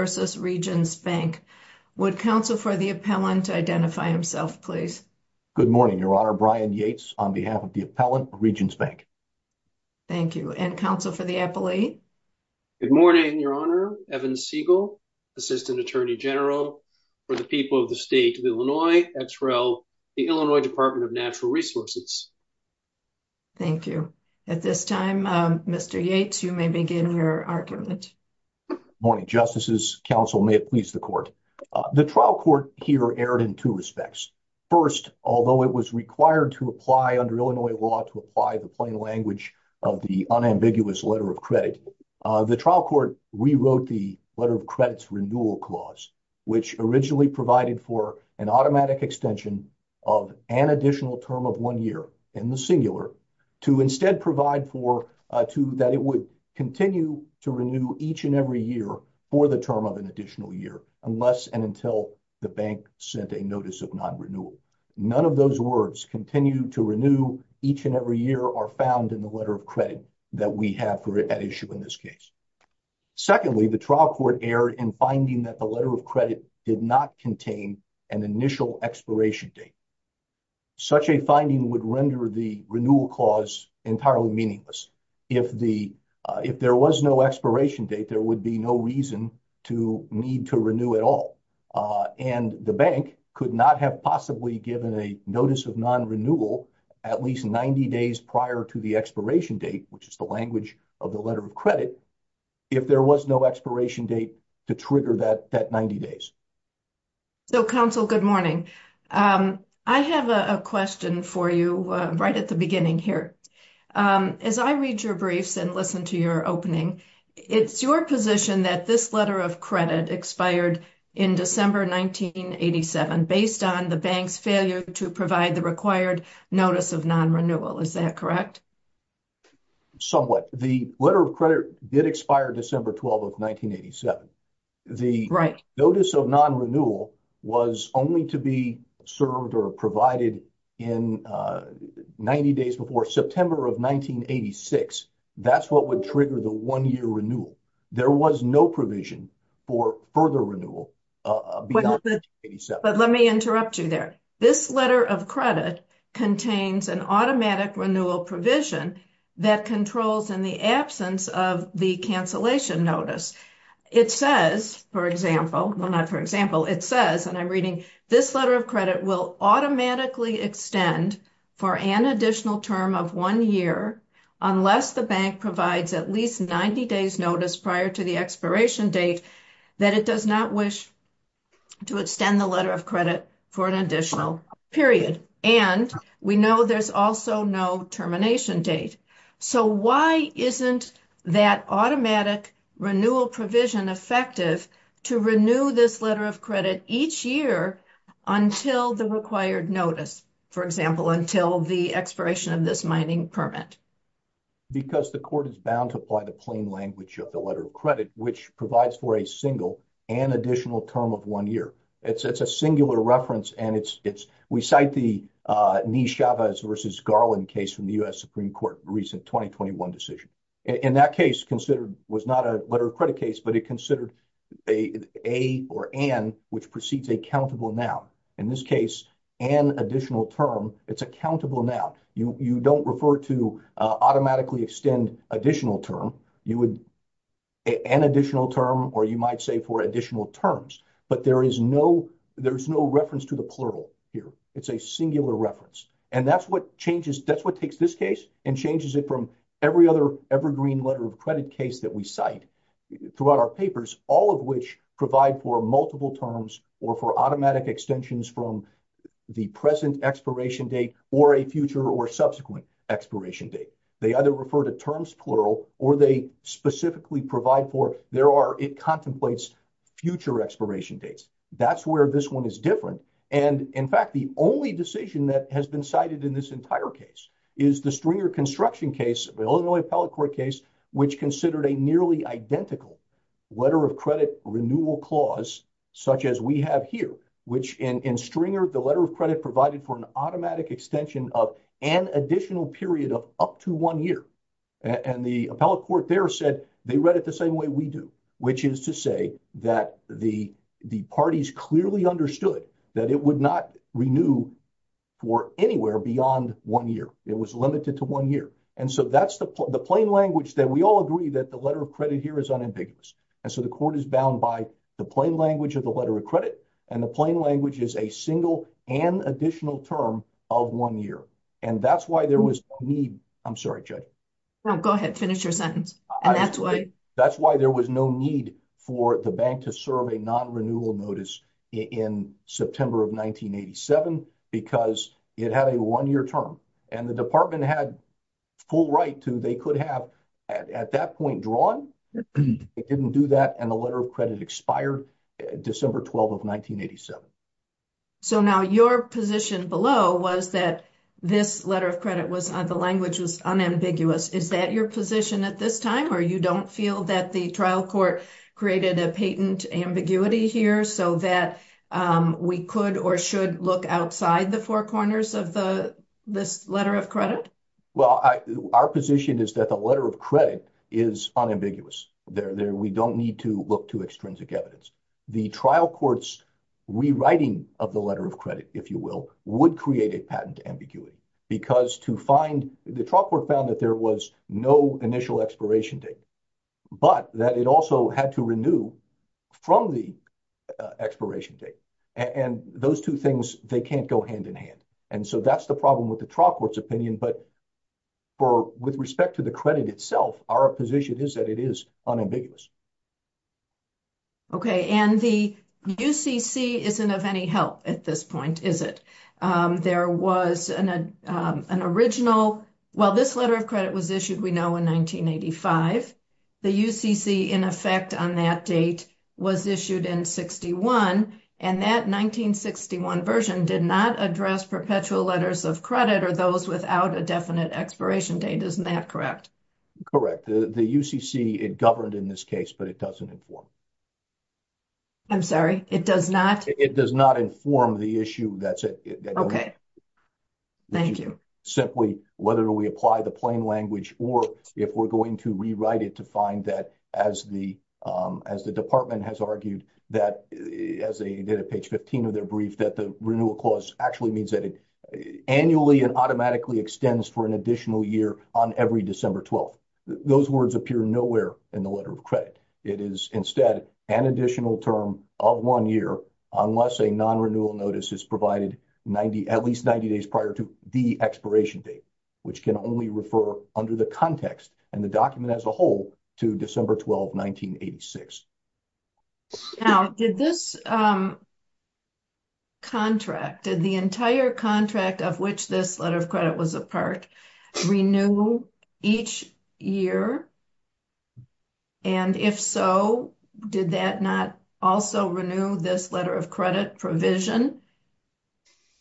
v. Regions Bank. Would counsel for the appellant identify himself, please? Good morning, Your Honor. Brian Yates on behalf of the appellant of Regions Bank. Thank you. And counsel for the appellate? Good morning, Your Honor. Evan Siegel, Assistant Attorney General for the people of the state of Illinois, XREL, the Illinois Department of Natural Resources. Thank you. At this time, Mr. Yates, you may begin your argument. Good morning, Justices. Counsel, may it please the court. The trial court here erred in two respects. First, although it was required to apply under Illinois law to apply the plain language of the unambiguous letter of credit, the trial court rewrote the letter of credits renewal clause, which originally provided for an automatic extension of an additional term of one year in the singular, to instead provide for to that it would continue to renew each and every year for the term of an additional year, unless and until the bank sent a notice of non-renewal. None of those words continue to renew each and every year are found in the letter of credit that we have for an issue in this case. Secondly, the trial court erred in finding that the letter of credit did not contain an initial expiration date. Such a finding would render the renewal clause entirely meaningless. If there was no expiration date, there would be no reason to need to renew at all. And the bank could not have possibly given a notice of non-renewal at least 90 days prior to the expiration date, which is the language of the letter of credit, if there was no expiration date to trigger that 90 days. So counsel, good morning. I have a question for you right at the beginning here. As I read your briefs and listen to your opening, it's your position that this letter of credit expired in December 1987, based on the bank's failure to provide the required notice of non-renewal. Is that correct? Somewhat. The letter of credit did expire December 12 of 1987. The notice of non-renewal was only to be served or provided in 90 days before September of 1986. That's what would trigger the one year renewal. There was no provision for further renewal beyond 1987. But let me interrupt you there. This letter of credit contains an automatic renewal provision that controls in the absence of the cancellation notice. It says, for example, well, not for example, it says, and I'm reading, this letter of credit will automatically extend for an additional term of one year, unless the bank provides at least 90 days notice prior to the expiration date, that it does not wish to extend the letter of credit for an additional period. And we know there's also no termination date. So why isn't that automatic renewal provision effective to renew this letter of credit each year until the required notice? For example, until the expiration of this mining permit? Because the court is bound to apply the plain language of the letter of credit, which provides for a single and additional term of one year. It's a singular reference, and it's we cite the Ni Chavez versus Garland case from the U.S. Supreme Court, recent 2021 decision in that case considered was not a letter of credit case, but it considered a or an, which precedes a countable now, in this case, an additional term. It's a countable now. You don't refer to automatically extend additional term. You would an additional term or you might say for additional terms, but there is no there's no reference to the plural here. It's a singular reference. And that's what changes. That's what takes this case and changes it from every other evergreen letter of credit case that we cite throughout our papers, all of which provide for multiple terms or for automatic extensions from the present expiration date or a future or subsequent expiration date. They either refer to terms plural or they specifically provide for there are it contemplates future expiration dates. That's where this one is different. And in fact, the only decision that has been cited in this entire case is the Stringer construction case, Illinois appellate court case, which considered a nearly identical letter of credit renewal clause such as we have here, which in Stringer, the letter of credit provided for an automatic extension of an additional period of up to one year. And the appellate court there said they read it the same way we do, which is to say that the the parties clearly understood that it would not renew for anywhere beyond one year. It was limited to one year. And so that's the plain language that we all agree that the letter of credit here is unambiguous. And so the court is bound by the plain language of the letter of credit and the plain language is a single and additional term of one year. And that's why there was need. I'm sorry. Go ahead. Finish your sentence. And that's why that's why there was no need for the bank to serve a non-renewal notice in September of 1987 because it had a one year term. And the department had full right to they could have at that point drawn. It didn't do that. And the letter of credit expired December 12 of 1987. So now your position below was that this letter of credit was the language was unambiguous. Is that your position at this time or you don't feel that the trial court created a patent ambiguity here so that we could or should look outside the four corners of the this letter of credit? Well, our position is that the letter of credit is unambiguous there. We don't need to look to extrinsic evidence. The trial court's rewriting of the letter of credit, if you will, would create a patent ambiguity because to find the trial court found that there was no initial expiration date, but that it also had to renew from the expiration date. And those two things, they can't go hand in hand. And so that's the problem with the trial court's opinion. But for with respect to the credit itself, our position is that it is unambiguous. OK, and the UCC isn't of any help at this point, is it? There was an original. Well, this letter of credit was issued, we know, in 1985. The UCC, in effect, on that date was issued in 61. And that 1961 version did not address perpetual letters of credit or those without a definite expiration date. Isn't that correct? Correct. The UCC, it governed in this case, but it doesn't inform. I'm sorry, it does not. It does not inform the issue. That's it. OK. Thank you. Simply, whether we apply the plain language or if we're going to rewrite it to find that as the as the department has argued that as they did a page 15 of their brief, that the renewal clause actually means that it extends for an additional year on every December 12th. Those words appear nowhere in the letter of credit. It is instead an additional term of one year unless a non-renewal notice is provided 90, at least 90 days prior to the expiration date, which can only refer under the context and the document as a whole to December 12, 1986. Now, did this contract, the entire contract of which this letter of credit was a part, renew each year? And if so, did that not also renew this letter of credit provision?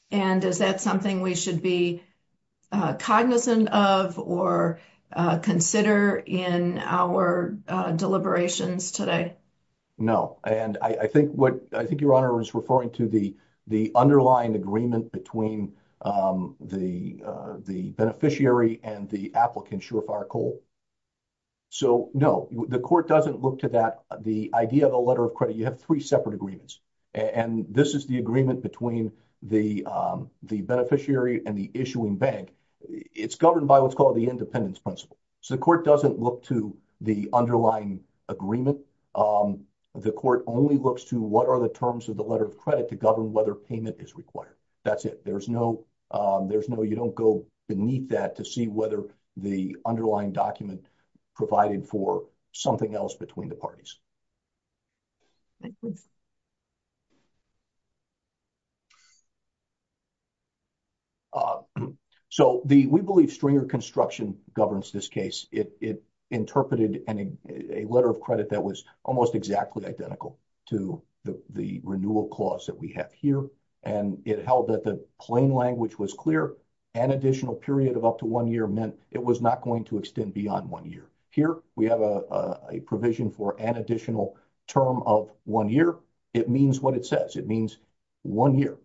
And is that something we should be cognizant of or consider in our deliberations today? No, and I think what I think your honor is referring to the the underlying agreement between the the beneficiary and the applicant, surefire coal. So, no, the court doesn't look to that. The idea of a letter of credit, you have three separate agreements and this is the agreement between the the beneficiary and the issuing bank. It's governed by what's called the independence principle. So the court doesn't look to the underlying agreement. The court only looks to what are the terms of the letter of credit to govern whether payment is required. That's it. There's no, there's no, you don't go beneath that to see whether the underlying document provided for something else between the parties. So, we believe stringer construction governs this case. It interpreted a letter of credit that was almost exactly identical to the renewal clause that we have here. And it held that the plain language was clear, an additional period of up to one year meant it was not going to extend beyond one year. Here, we have a provision for an additional term of one year. It means what it says. It means one year.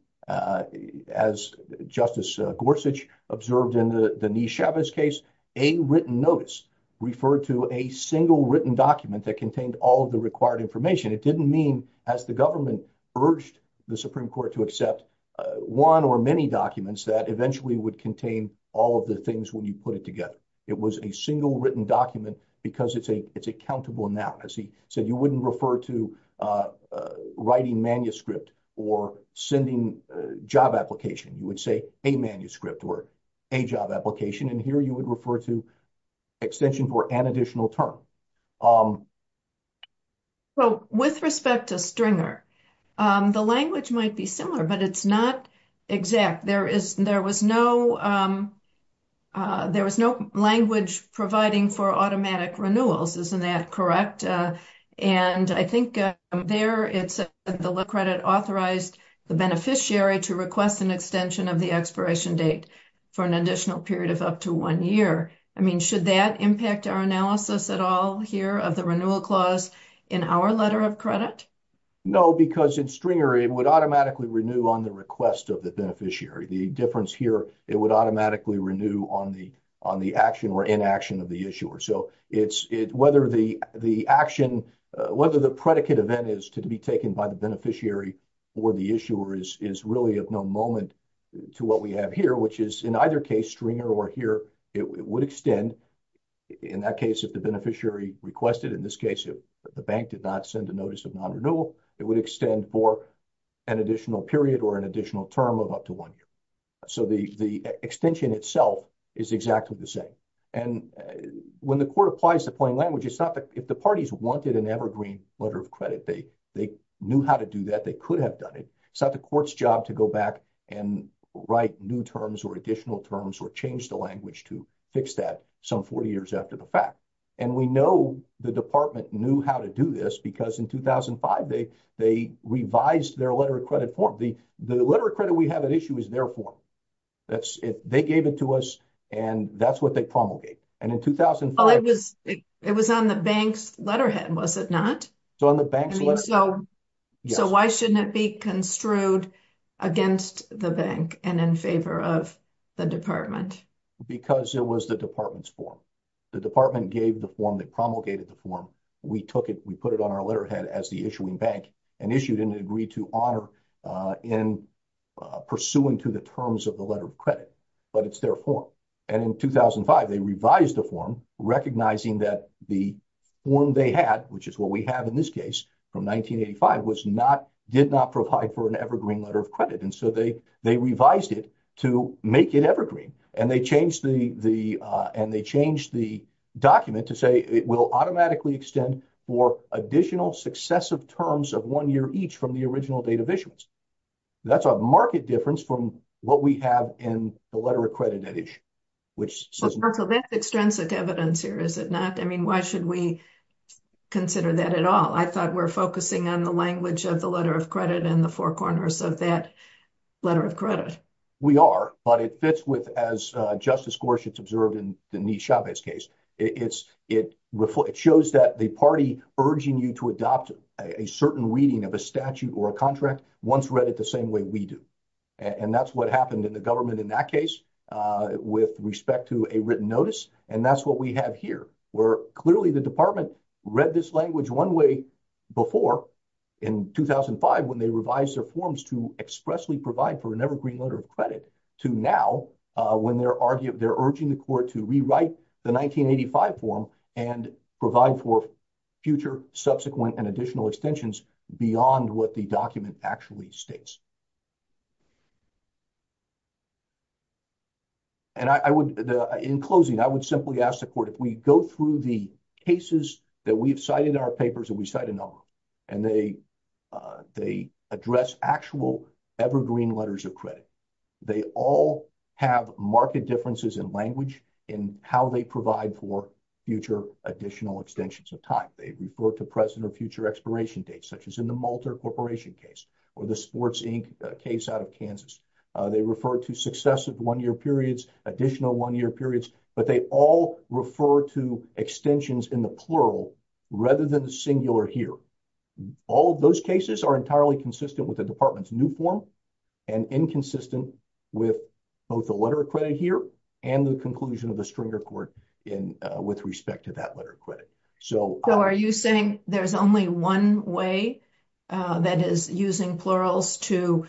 As Justice Gorsuch observed in the Denise Chavez case, a written notice referred to a single written document that contained all of the required information. It didn't mean, as the government urged the Supreme Court to accept one or many documents that eventually would contain all of the things when you put it together. It was a single written document because it's a, it's a countable noun. As he said, you wouldn't refer to writing manuscript or sending job application. You would say a manuscript or a job application. And here you would refer to extension for an additional term. So, with respect to stringer, the language might be similar, but it's not exact. There is, there was no, there was no language providing for automatic renewals. Isn't that correct? And I think there, it's the credit authorized the beneficiary to request an extension of the expiration date for an additional period of up to one year. I mean, should that impact our analysis at all here of the renewal clause in our letter of credit? No, because in stringer, it would automatically renew on the request of the beneficiary. The difference here, it would automatically renew on the, on the action or inaction of the issuer. So, it's, whether the action, whether the predicate event is to be taken by the beneficiary or the issuer is really of no moment to what we have here, which is in either case, stringer or here, it would extend. In that case, if the beneficiary requested, in this case, if the bank did not send a notice of non-renewal, it would extend for an additional period or an additional term of up to one year. So, the extension itself is exactly the same. And when the court applies the plain language, it's not that if the parties wanted an evergreen letter of credit, they knew how to do that, they could have done it. It's not the court's job to go back and write new terms or additional terms or change the language to fix that some 40 years after the fact. And we know the department knew how to do this because in 2005, they revised their letter of credit form. The letter of credit we have at issue is their form. That's it. They gave it to us and that's what they promulgated. And in 2005. It was on the bank's letterhead, was it not? So, on the bank's letterhead. So, why shouldn't it be construed against the bank and in favor of the department? Because it was the department's form. The department gave the form, they promulgated the form. We took it, we put it on our letterhead as the issuing bank and issued an agree to honor in pursuant to the terms of the letter of credit, but it's their form. And in 2005, they revised the form, recognizing that the form they had, which is what we have in this case from 1985, did not provide for an evergreen letter of credit. And so they revised it to make it evergreen. And they changed the document to say it will automatically extend for additional successive terms of one year each from the original date of issuance. That's a market difference from what we have in the letter of credit. So, that's extrinsic evidence here, is it not? I mean, why should we consider that at all? I thought we're focusing on the language of the letter of credit and the four corners of that letter of credit. We are, but it fits with, as Justice Gorsuch observed in Denise Chavez's case, it shows that the party urging you to adopt a certain reading of a statute or a contract once read it the same way we do. And that's what happened in the government in that case with respect to a written notice. And that's what we have here, where clearly the department read this language one way before in 2005 when they revised their forms to expressly provide for an evergreen letter of credit to now when they're urging the court to rewrite the 1985 form and provide for future subsequent and additional extensions beyond what the document actually states. And I would, in closing, I would simply ask the court, if we go through the cases that we've cited in our papers and we cite a number, and they address actual evergreen letters of credit, they all have market differences in language in how they provide for future additional extensions of time. They refer to present or future expiration dates, such as in the Malter Corporation case or the Sports Inc. case out of Kansas. They refer to successive one-year periods, additional one-year periods, but they all refer to extensions in the plural rather than the singular here. All of those cases are entirely consistent with the department's new form and inconsistent with both the letter of credit here and the conclusion of the Stringer court with respect to that letter of credit. So are you saying there's only one way that is using plurals to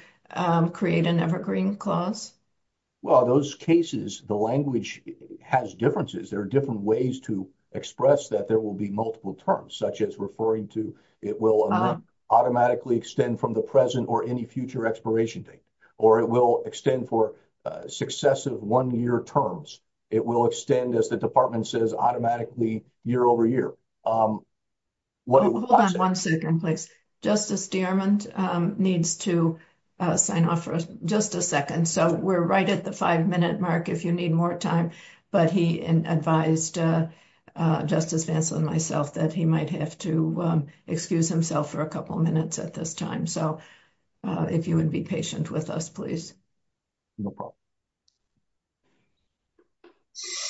create an evergreen clause? Well, those cases, the language has differences. There are different ways to express that there will be multiple terms, such as referring to it will automatically extend from the present or any future expiration date, or it will extend for successive one-year terms. It will extend, as the department says, automatically year over year. Hold on one second, please. Justice Dierman needs to sign off for just a second. So we're right at the five minute mark if you need more time, but he advised Justice Vancel and myself that he might have to excuse himself for a couple minutes at this time. So if you would be patient with us, please. No problem. Thank you.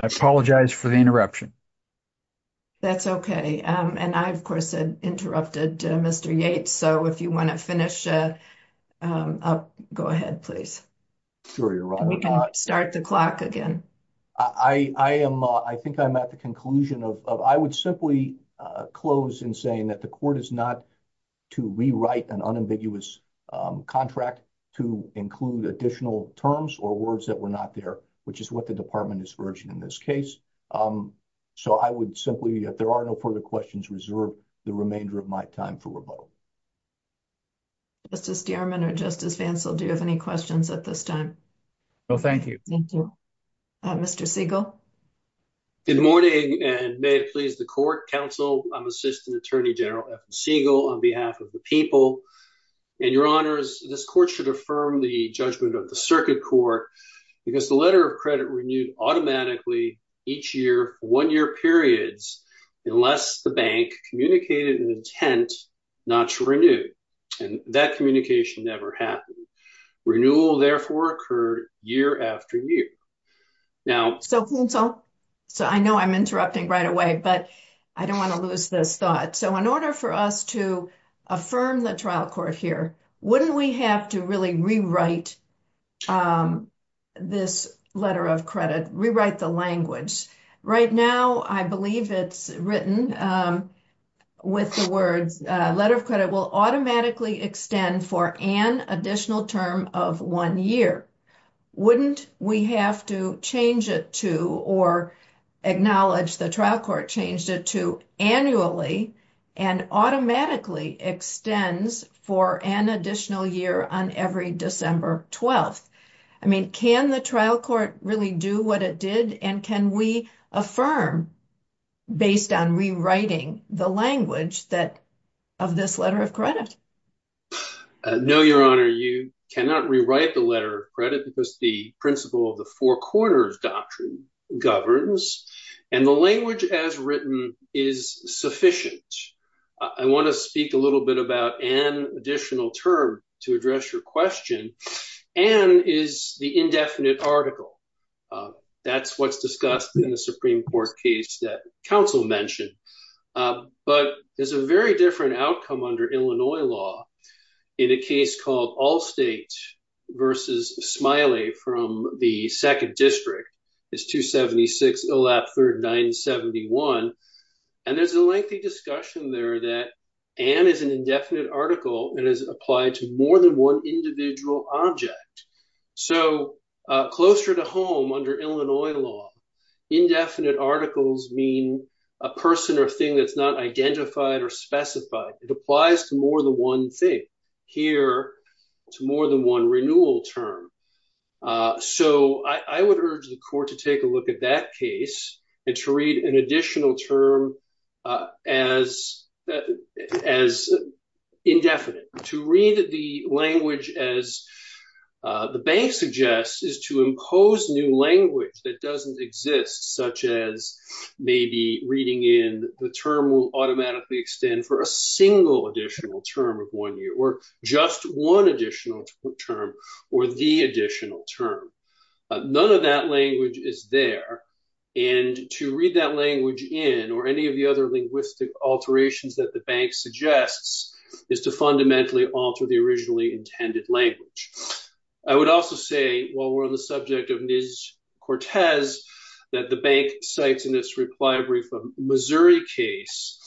I apologize for the interruption. That's okay. And I, of course, interrupted Mr. Yates. So if you want to finish up, go ahead, please. Sorry, you're wrong. We can start the clock again. I think I'm at the conclusion of, I would simply close in saying that the court is not to rewrite an unambiguous contract to include additional terms or words that were not there, which is what the department is urging in this case. So I would simply, if there are no further questions, reserve the remainder of my time for revote. Justice Dierman or Justice Vancel, do you have any questions at this time? No, thank you. Thank you. Mr. Siegel. Good morning and may it please the court, counsel, I'm Assistant Attorney General Evan Siegel on behalf of the people. And your honors, this court should affirm the judgment of the circuit court because the letter of credit renewed automatically each year for one year periods unless the bank communicated an intent not to renew. And that communication never happened. Renewal, therefore, occurred year after year. So counsel, so I know I'm interrupting right away, but I don't want to lose this thought. So in order for us to affirm the trial court here, wouldn't we have to really rewrite this letter of credit, rewrite the language? Right now, I believe it's written with the words letter of credit will automatically extend for an additional term of one year. Wouldn't we have to change it to or acknowledge the trial court changed it to annually and automatically extends for an additional year on every December 12th? I mean, can the trial court really do what it did and can we affirm based on rewriting the language that of this letter of credit? No, your honor, you cannot rewrite the letter of credit because the principle of the four corners doctrine governs and the language as written is sufficient. I want to speak a little bit about an additional term to address your question and is the indefinite article. That's what's discussed in the Supreme Court case that counsel mentioned. But there's a very different outcome under Illinois law in a case called Allstate versus Smiley from the second district. It's 276 Illap 3971. And there's a lengthy discussion there that and is an indefinite article and is applied to more than one individual object. So closer to home under Illinois law, indefinite articles mean a person or thing that's not identified or specified. It applies to more than one thing here to more than one renewal term. So I would urge the court to take a look at that case and to read an additional term as as indefinite. To read the language as the bank suggests is to impose new language that doesn't exist, such as maybe reading in the term will automatically extend for a single additional term of one year or just one additional term or the additional term. None of that language is there. And to read that language in or any of the other linguistic alterations that the bank suggests is to fundamentally alter the originally intended language. I would also say, while we're on the subject of Ms. Cortez, that the bank cites in this reply brief a Missouri case,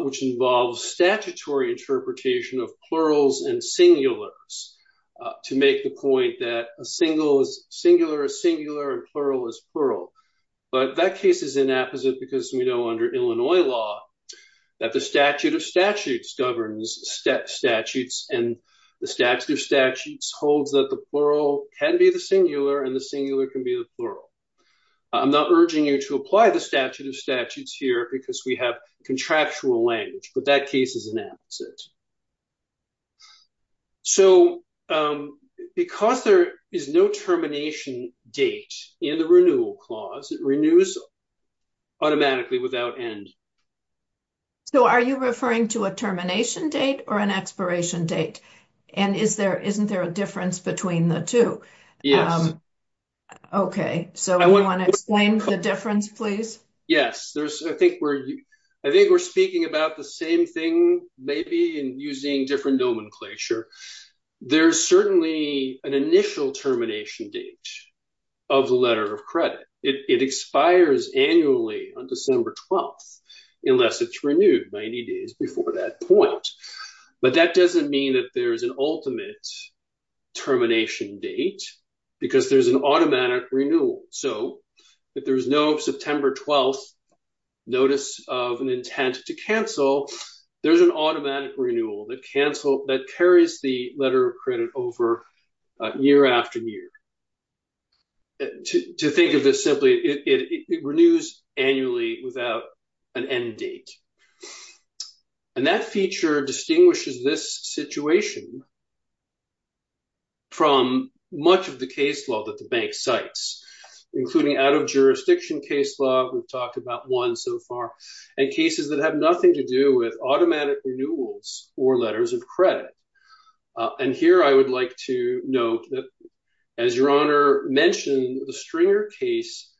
which involves statutory interpretation of plurals and singulars to make the point that a single is singular, a singular and plural is plural. But that case is inapposite because we know under Illinois law that the statute of statutes governs statutes and the statute of statutes holds that the plural can be the singular and the singular can be the plural. I'm not urging you to apply the statute of statutes here because we have contractual language, but that case is inapposite. So, because there is no termination date in the renewal clause, it renews automatically without end. So, are you referring to a termination date or an expiration date? And is there, isn't there a difference between the two? Yes. Okay, so I want to explain the difference, please. Yes, there's, I think we're, I think we're speaking about the same thing maybe and using different nomenclature. There's certainly an initial termination date of the letter of credit. It expires annually on December 12th, unless it's renewed 90 days before that point. But that doesn't mean that there's an ultimate termination date because there's an automatic renewal. So, if there's no September 12th notice of an intent to cancel, there's an automatic renewal that carries the letter of credit over year after year. To think of this simply, it renews annually without an end date. And that feature distinguishes this situation from much of the case law that the bank cites, including out of jurisdiction case law, we've talked about one so far, and cases that have nothing to do with automatic renewals or letters of credit. And here I would like to note that, as Your Honor mentioned, the Stringer case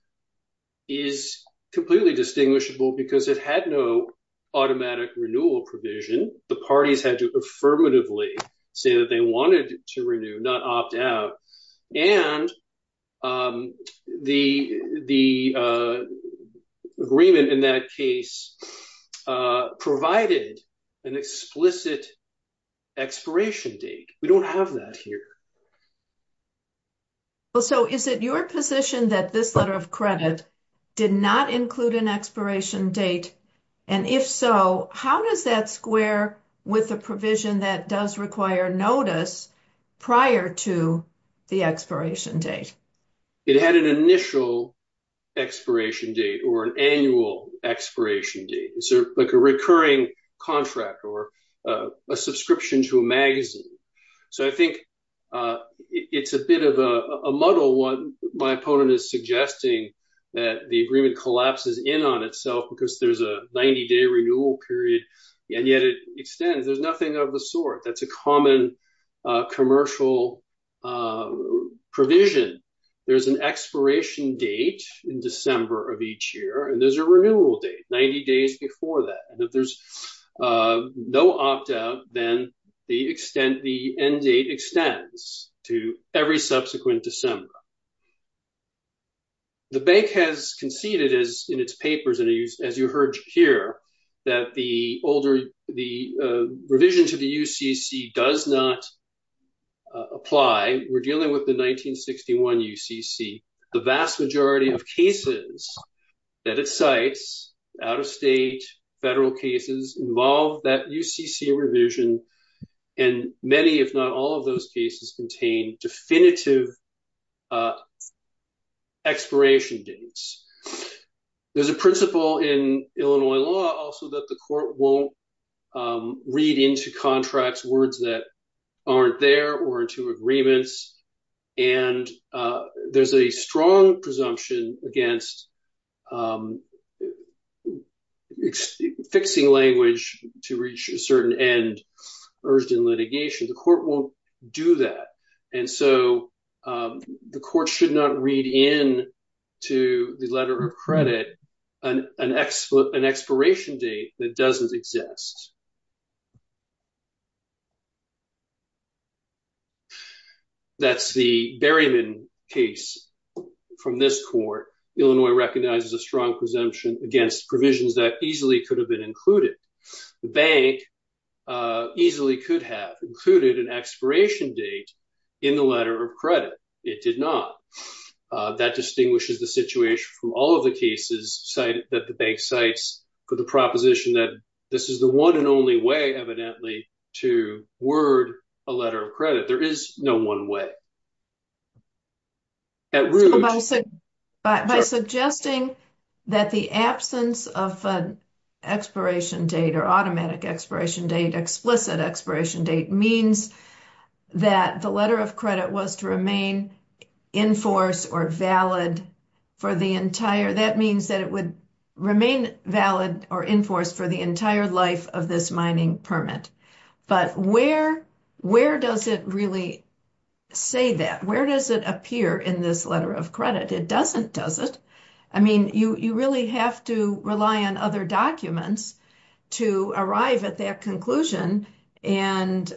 is completely distinguishable because it had no automatic renewal provision. The parties had to affirmatively say that they wanted to renew, not opt out. And the agreement in that case provided an explicit expiration date. We don't have that here. So, is it your position that this letter of credit did not include an expiration date? And if so, how does that square with the provision that does require notice prior to the expiration date? It had an initial expiration date or an annual expiration date. It's like a recurring contract or a subscription to a magazine. So, I think it's a bit of a muddle what my opponent is suggesting, that the agreement collapses in on itself because there's a 90-day renewal period, and yet it extends. There's nothing of the sort. That's a common commercial provision. There's an expiration date in December of each year, and there's a renewal date 90 days before that. And if there's no opt-out, then the end date extends to every subsequent December. The bank has conceded in its papers, as you heard here, that the revision to the UCC does not apply. We're dealing with the 1961 UCC. The vast majority of cases that it cites, out-of-state, federal cases, involve that UCC revision, and many, if not all, of those cases contain definitive expiration dates. There's a principle in Illinois law also that the court won't read into contracts words that aren't there or into agreements, and there's a strong presumption against fixing language to reach a certain end urged in litigation. The court won't do that, and so the court should not read in to the letter of credit an expiration date that doesn't exist. That's the Berryman case from this court. Illinois recognizes a strong presumption against provisions that easily could have been included. The bank easily could have included an expiration date in the letter of credit. It did not. That distinguishes the situation from all of the cases that the bank cites for the proposition that this is the one and only way, evidently, to word a letter of credit. There is no one way. By suggesting that the absence of an expiration date or automatic expiration date, explicit expiration date, means that the letter of credit was to remain in force or valid for the entire, that means that it would remain valid or enforced for the entire life of this mining permit. But where does it really say that? Where does it appear in this letter of credit? It doesn't, does it? I mean, you really have to rely on other documents to arrive at that conclusion, and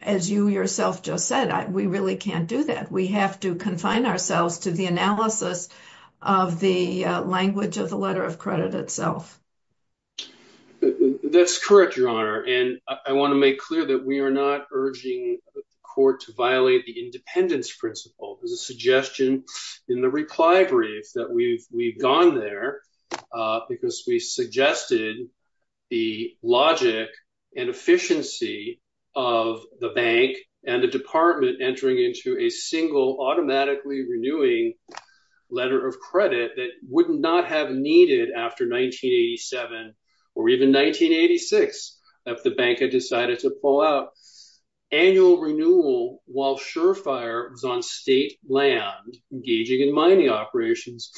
as you yourself just said, we really can't do that. We have to confine ourselves to the analysis of the language of the letter of credit itself. That's correct, Your Honor. And I want to make clear that we are not urging the court to violate the independence principle. There's a suggestion in the reply brief that we've gone there because we suggested the logic and efficiency of the bank and the department entering into a single automatically renewing letter of credit that would not have needed after 1988. Or even 1986, if the bank had decided to pull out annual renewal while Surefire was on state land engaging in mining operations.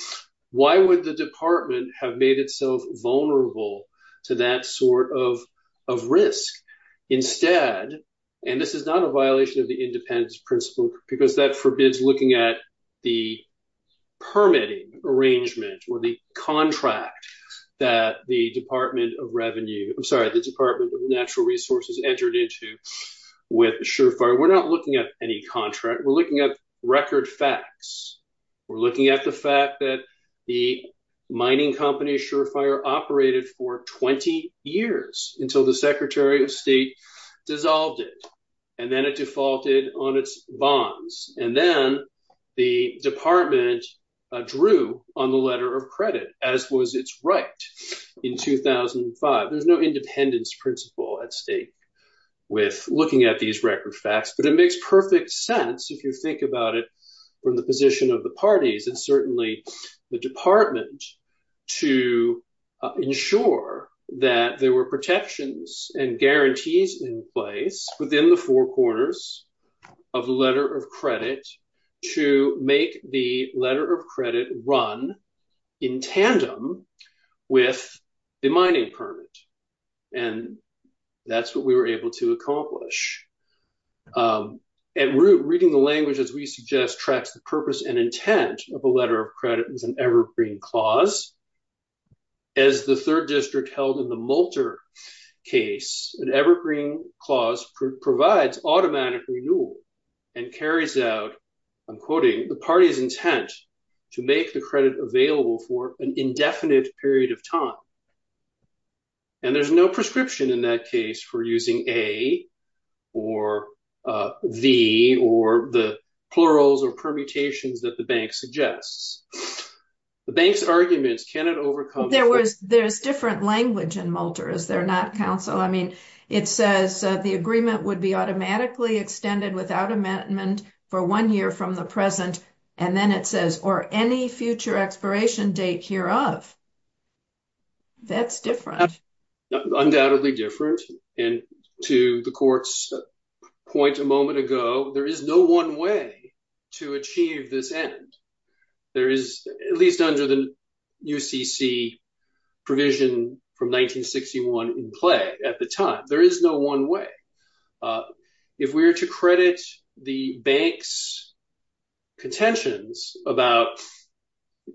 Why would the department have made itself vulnerable to that sort of risk? Instead, and this is not a violation of the independence principle, because that forbids looking at the permitting arrangement or the contract that the Department of Revenue, I'm sorry, the Department of Natural Resources entered into with Surefire. We're not looking at any contract. We're looking at record facts. We're looking at the fact that the mining company Surefire operated for 20 years until the Secretary of State dissolved it, and then it defaulted on its bonds. And then the department drew on the letter of credit, as was its right in 2005. There's no independence principle at stake with looking at these record facts, but it makes perfect sense if you think about it from the position of the parties and certainly the department to ensure that there were protections and guarantees in place within the four corners of the letter of credit. To make the letter of credit run in tandem with the mining permit. And that's what we were able to accomplish. And reading the language, as we suggest, tracks the purpose and intent of a letter of credit is an evergreen clause. As the third district held in the Moulter case, an evergreen clause provides automatic renewal and carries out, I'm quoting, the party's intent to make the credit available for an indefinite period of time. And there's no prescription in that case for using a, or the, or the plurals or permutations that the bank suggests. The bank's arguments cannot overcome... There was, there's different language in Moulter, is there not, counsel? I mean, it says the agreement would be automatically extended without amendment for one year from the present. And then it says, or any future expiration date hereof. That's different. Undoubtedly different. And to the court's point a moment ago, there is no one way to achieve this end. There is, at least under the UCC provision from 1961 in play at the time, there is no one way. If we were to credit the bank's contentions about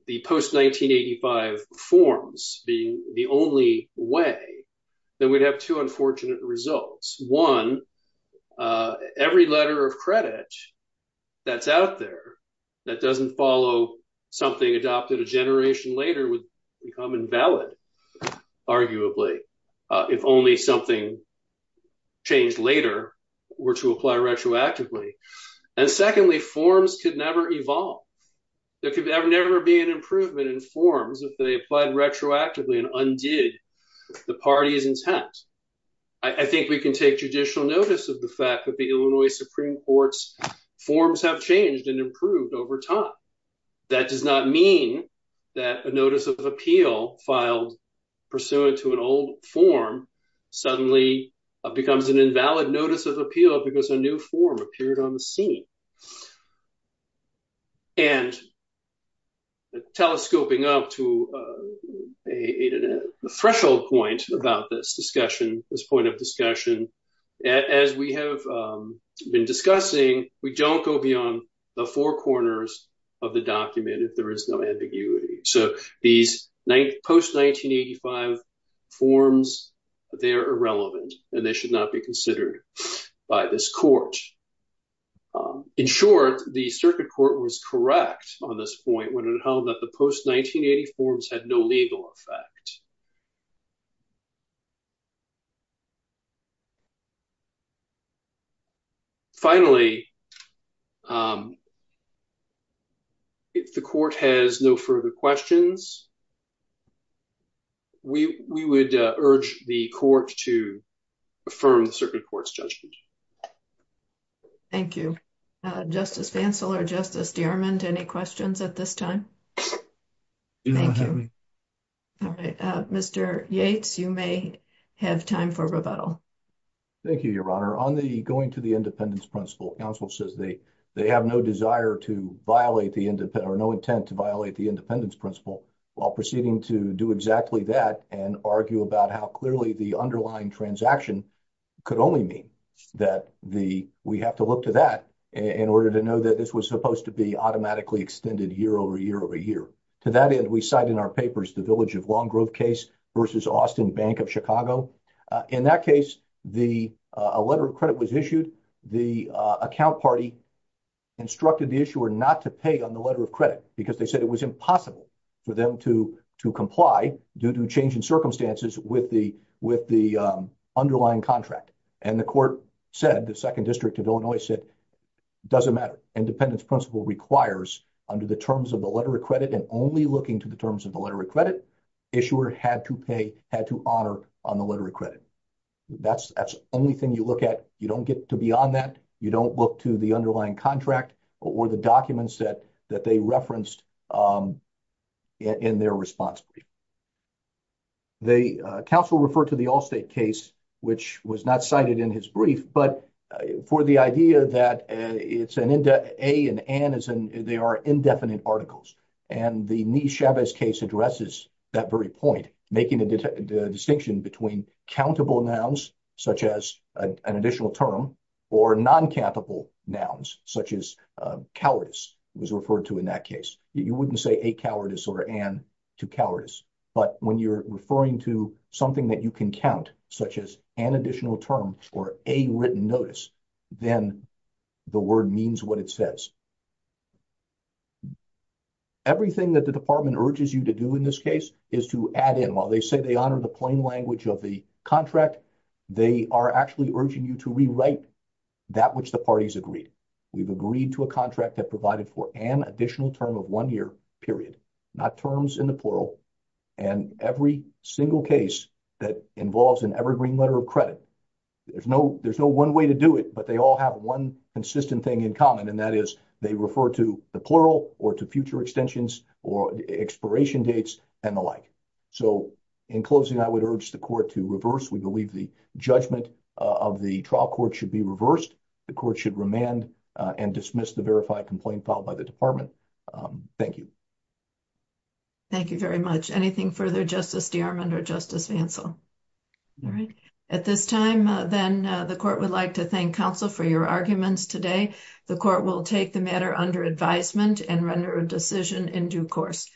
the post-1985 forms being the only way, then we'd have two unfortunate results. One, every letter of credit that's out there that doesn't follow something adopted a generation later would become invalid, arguably, if only something changed later were to apply retroactively. And secondly, forms could never evolve. There could never be an improvement in forms if they applied retroactively and undid the party's intent. I think we can take judicial notice of the fact that the Illinois Supreme Court's forms have changed and improved over time. That does not mean that a notice of appeal filed pursuant to an old form suddenly becomes an invalid notice of appeal because a new form appeared on the scene. And telescoping up to a threshold point about this discussion, this point of discussion, as we have been discussing, we don't go beyond the four corners of the document if there is no ambiguity. So these post-1985 forms, they're irrelevant and they should not be considered by this court. In short, the circuit court was correct on this point when it held that the post-1984 forms had no legal effect. Finally, if the court has no further questions, we would urge the court to affirm the circuit court's judgment. Thank you. Justice Fancel or Justice DeArmond, any questions at this time? Do not have any. All right. Mr. Yates, you may have time for rebuttal. Thank you, Your Honor. On the going to the independence principle, counsel says they have no desire to violate the independent or no intent to violate the independence principle while proceeding to do exactly that and argue about how clearly the underlying transaction could only mean that we have to look to that in order to know that this was supposed to be automatically extended year over year over year. To that end, we cite in our papers the Village of Long Grove case versus Austin Bank of Chicago. In that case, a letter of credit was issued. The account party instructed the issuer not to pay on the letter of credit because they said it was impossible for them to comply due to changing circumstances with the underlying contract. The issuer said, the second district of Illinois said, doesn't matter. Independence principle requires under the terms of the letter of credit and only looking to the terms of the letter of credit, issuer had to pay, had to honor on the letter of credit. That's the only thing you look at. You don't get to be on that. You don't look to the underlying contract or the documents that they referenced in their responsibility. The counsel referred to the Allstate case, which was not cited in his brief, but for the idea that it's an A and N, they are indefinite articles. And the Nice-Chavez case addresses that very point, making a distinction between countable nouns such as an additional term or non-countable nouns such as cowardice was referred to in that case. You wouldn't say a cowardice or an to cowardice. But when you're referring to something that you can count, such as an additional term or a written notice, then the word means what it says. Everything that the department urges you to do in this case is to add in while they say they honor the plain language of the contract, they are actually urging you to rewrite that which the parties agreed. We've agreed to a contract that provided for an additional term of one year period, not terms in the plural. And every single case that involves an evergreen letter of credit, there's no one way to do it, but they all have one consistent thing in common, and that is they refer to the plural or to future extensions or expiration dates and the like. So, in closing, I would urge the court to reverse. We believe the judgment of the trial court should be reversed. The court should remand and dismiss the verified complaint filed by the department. Thank you. Thank you very much. Anything further, Justice DeArmond or Justice Vancell? All right. At this time, then, the court would like to thank counsel for your arguments today. The court will take the matter under advisement and render a decision in due course.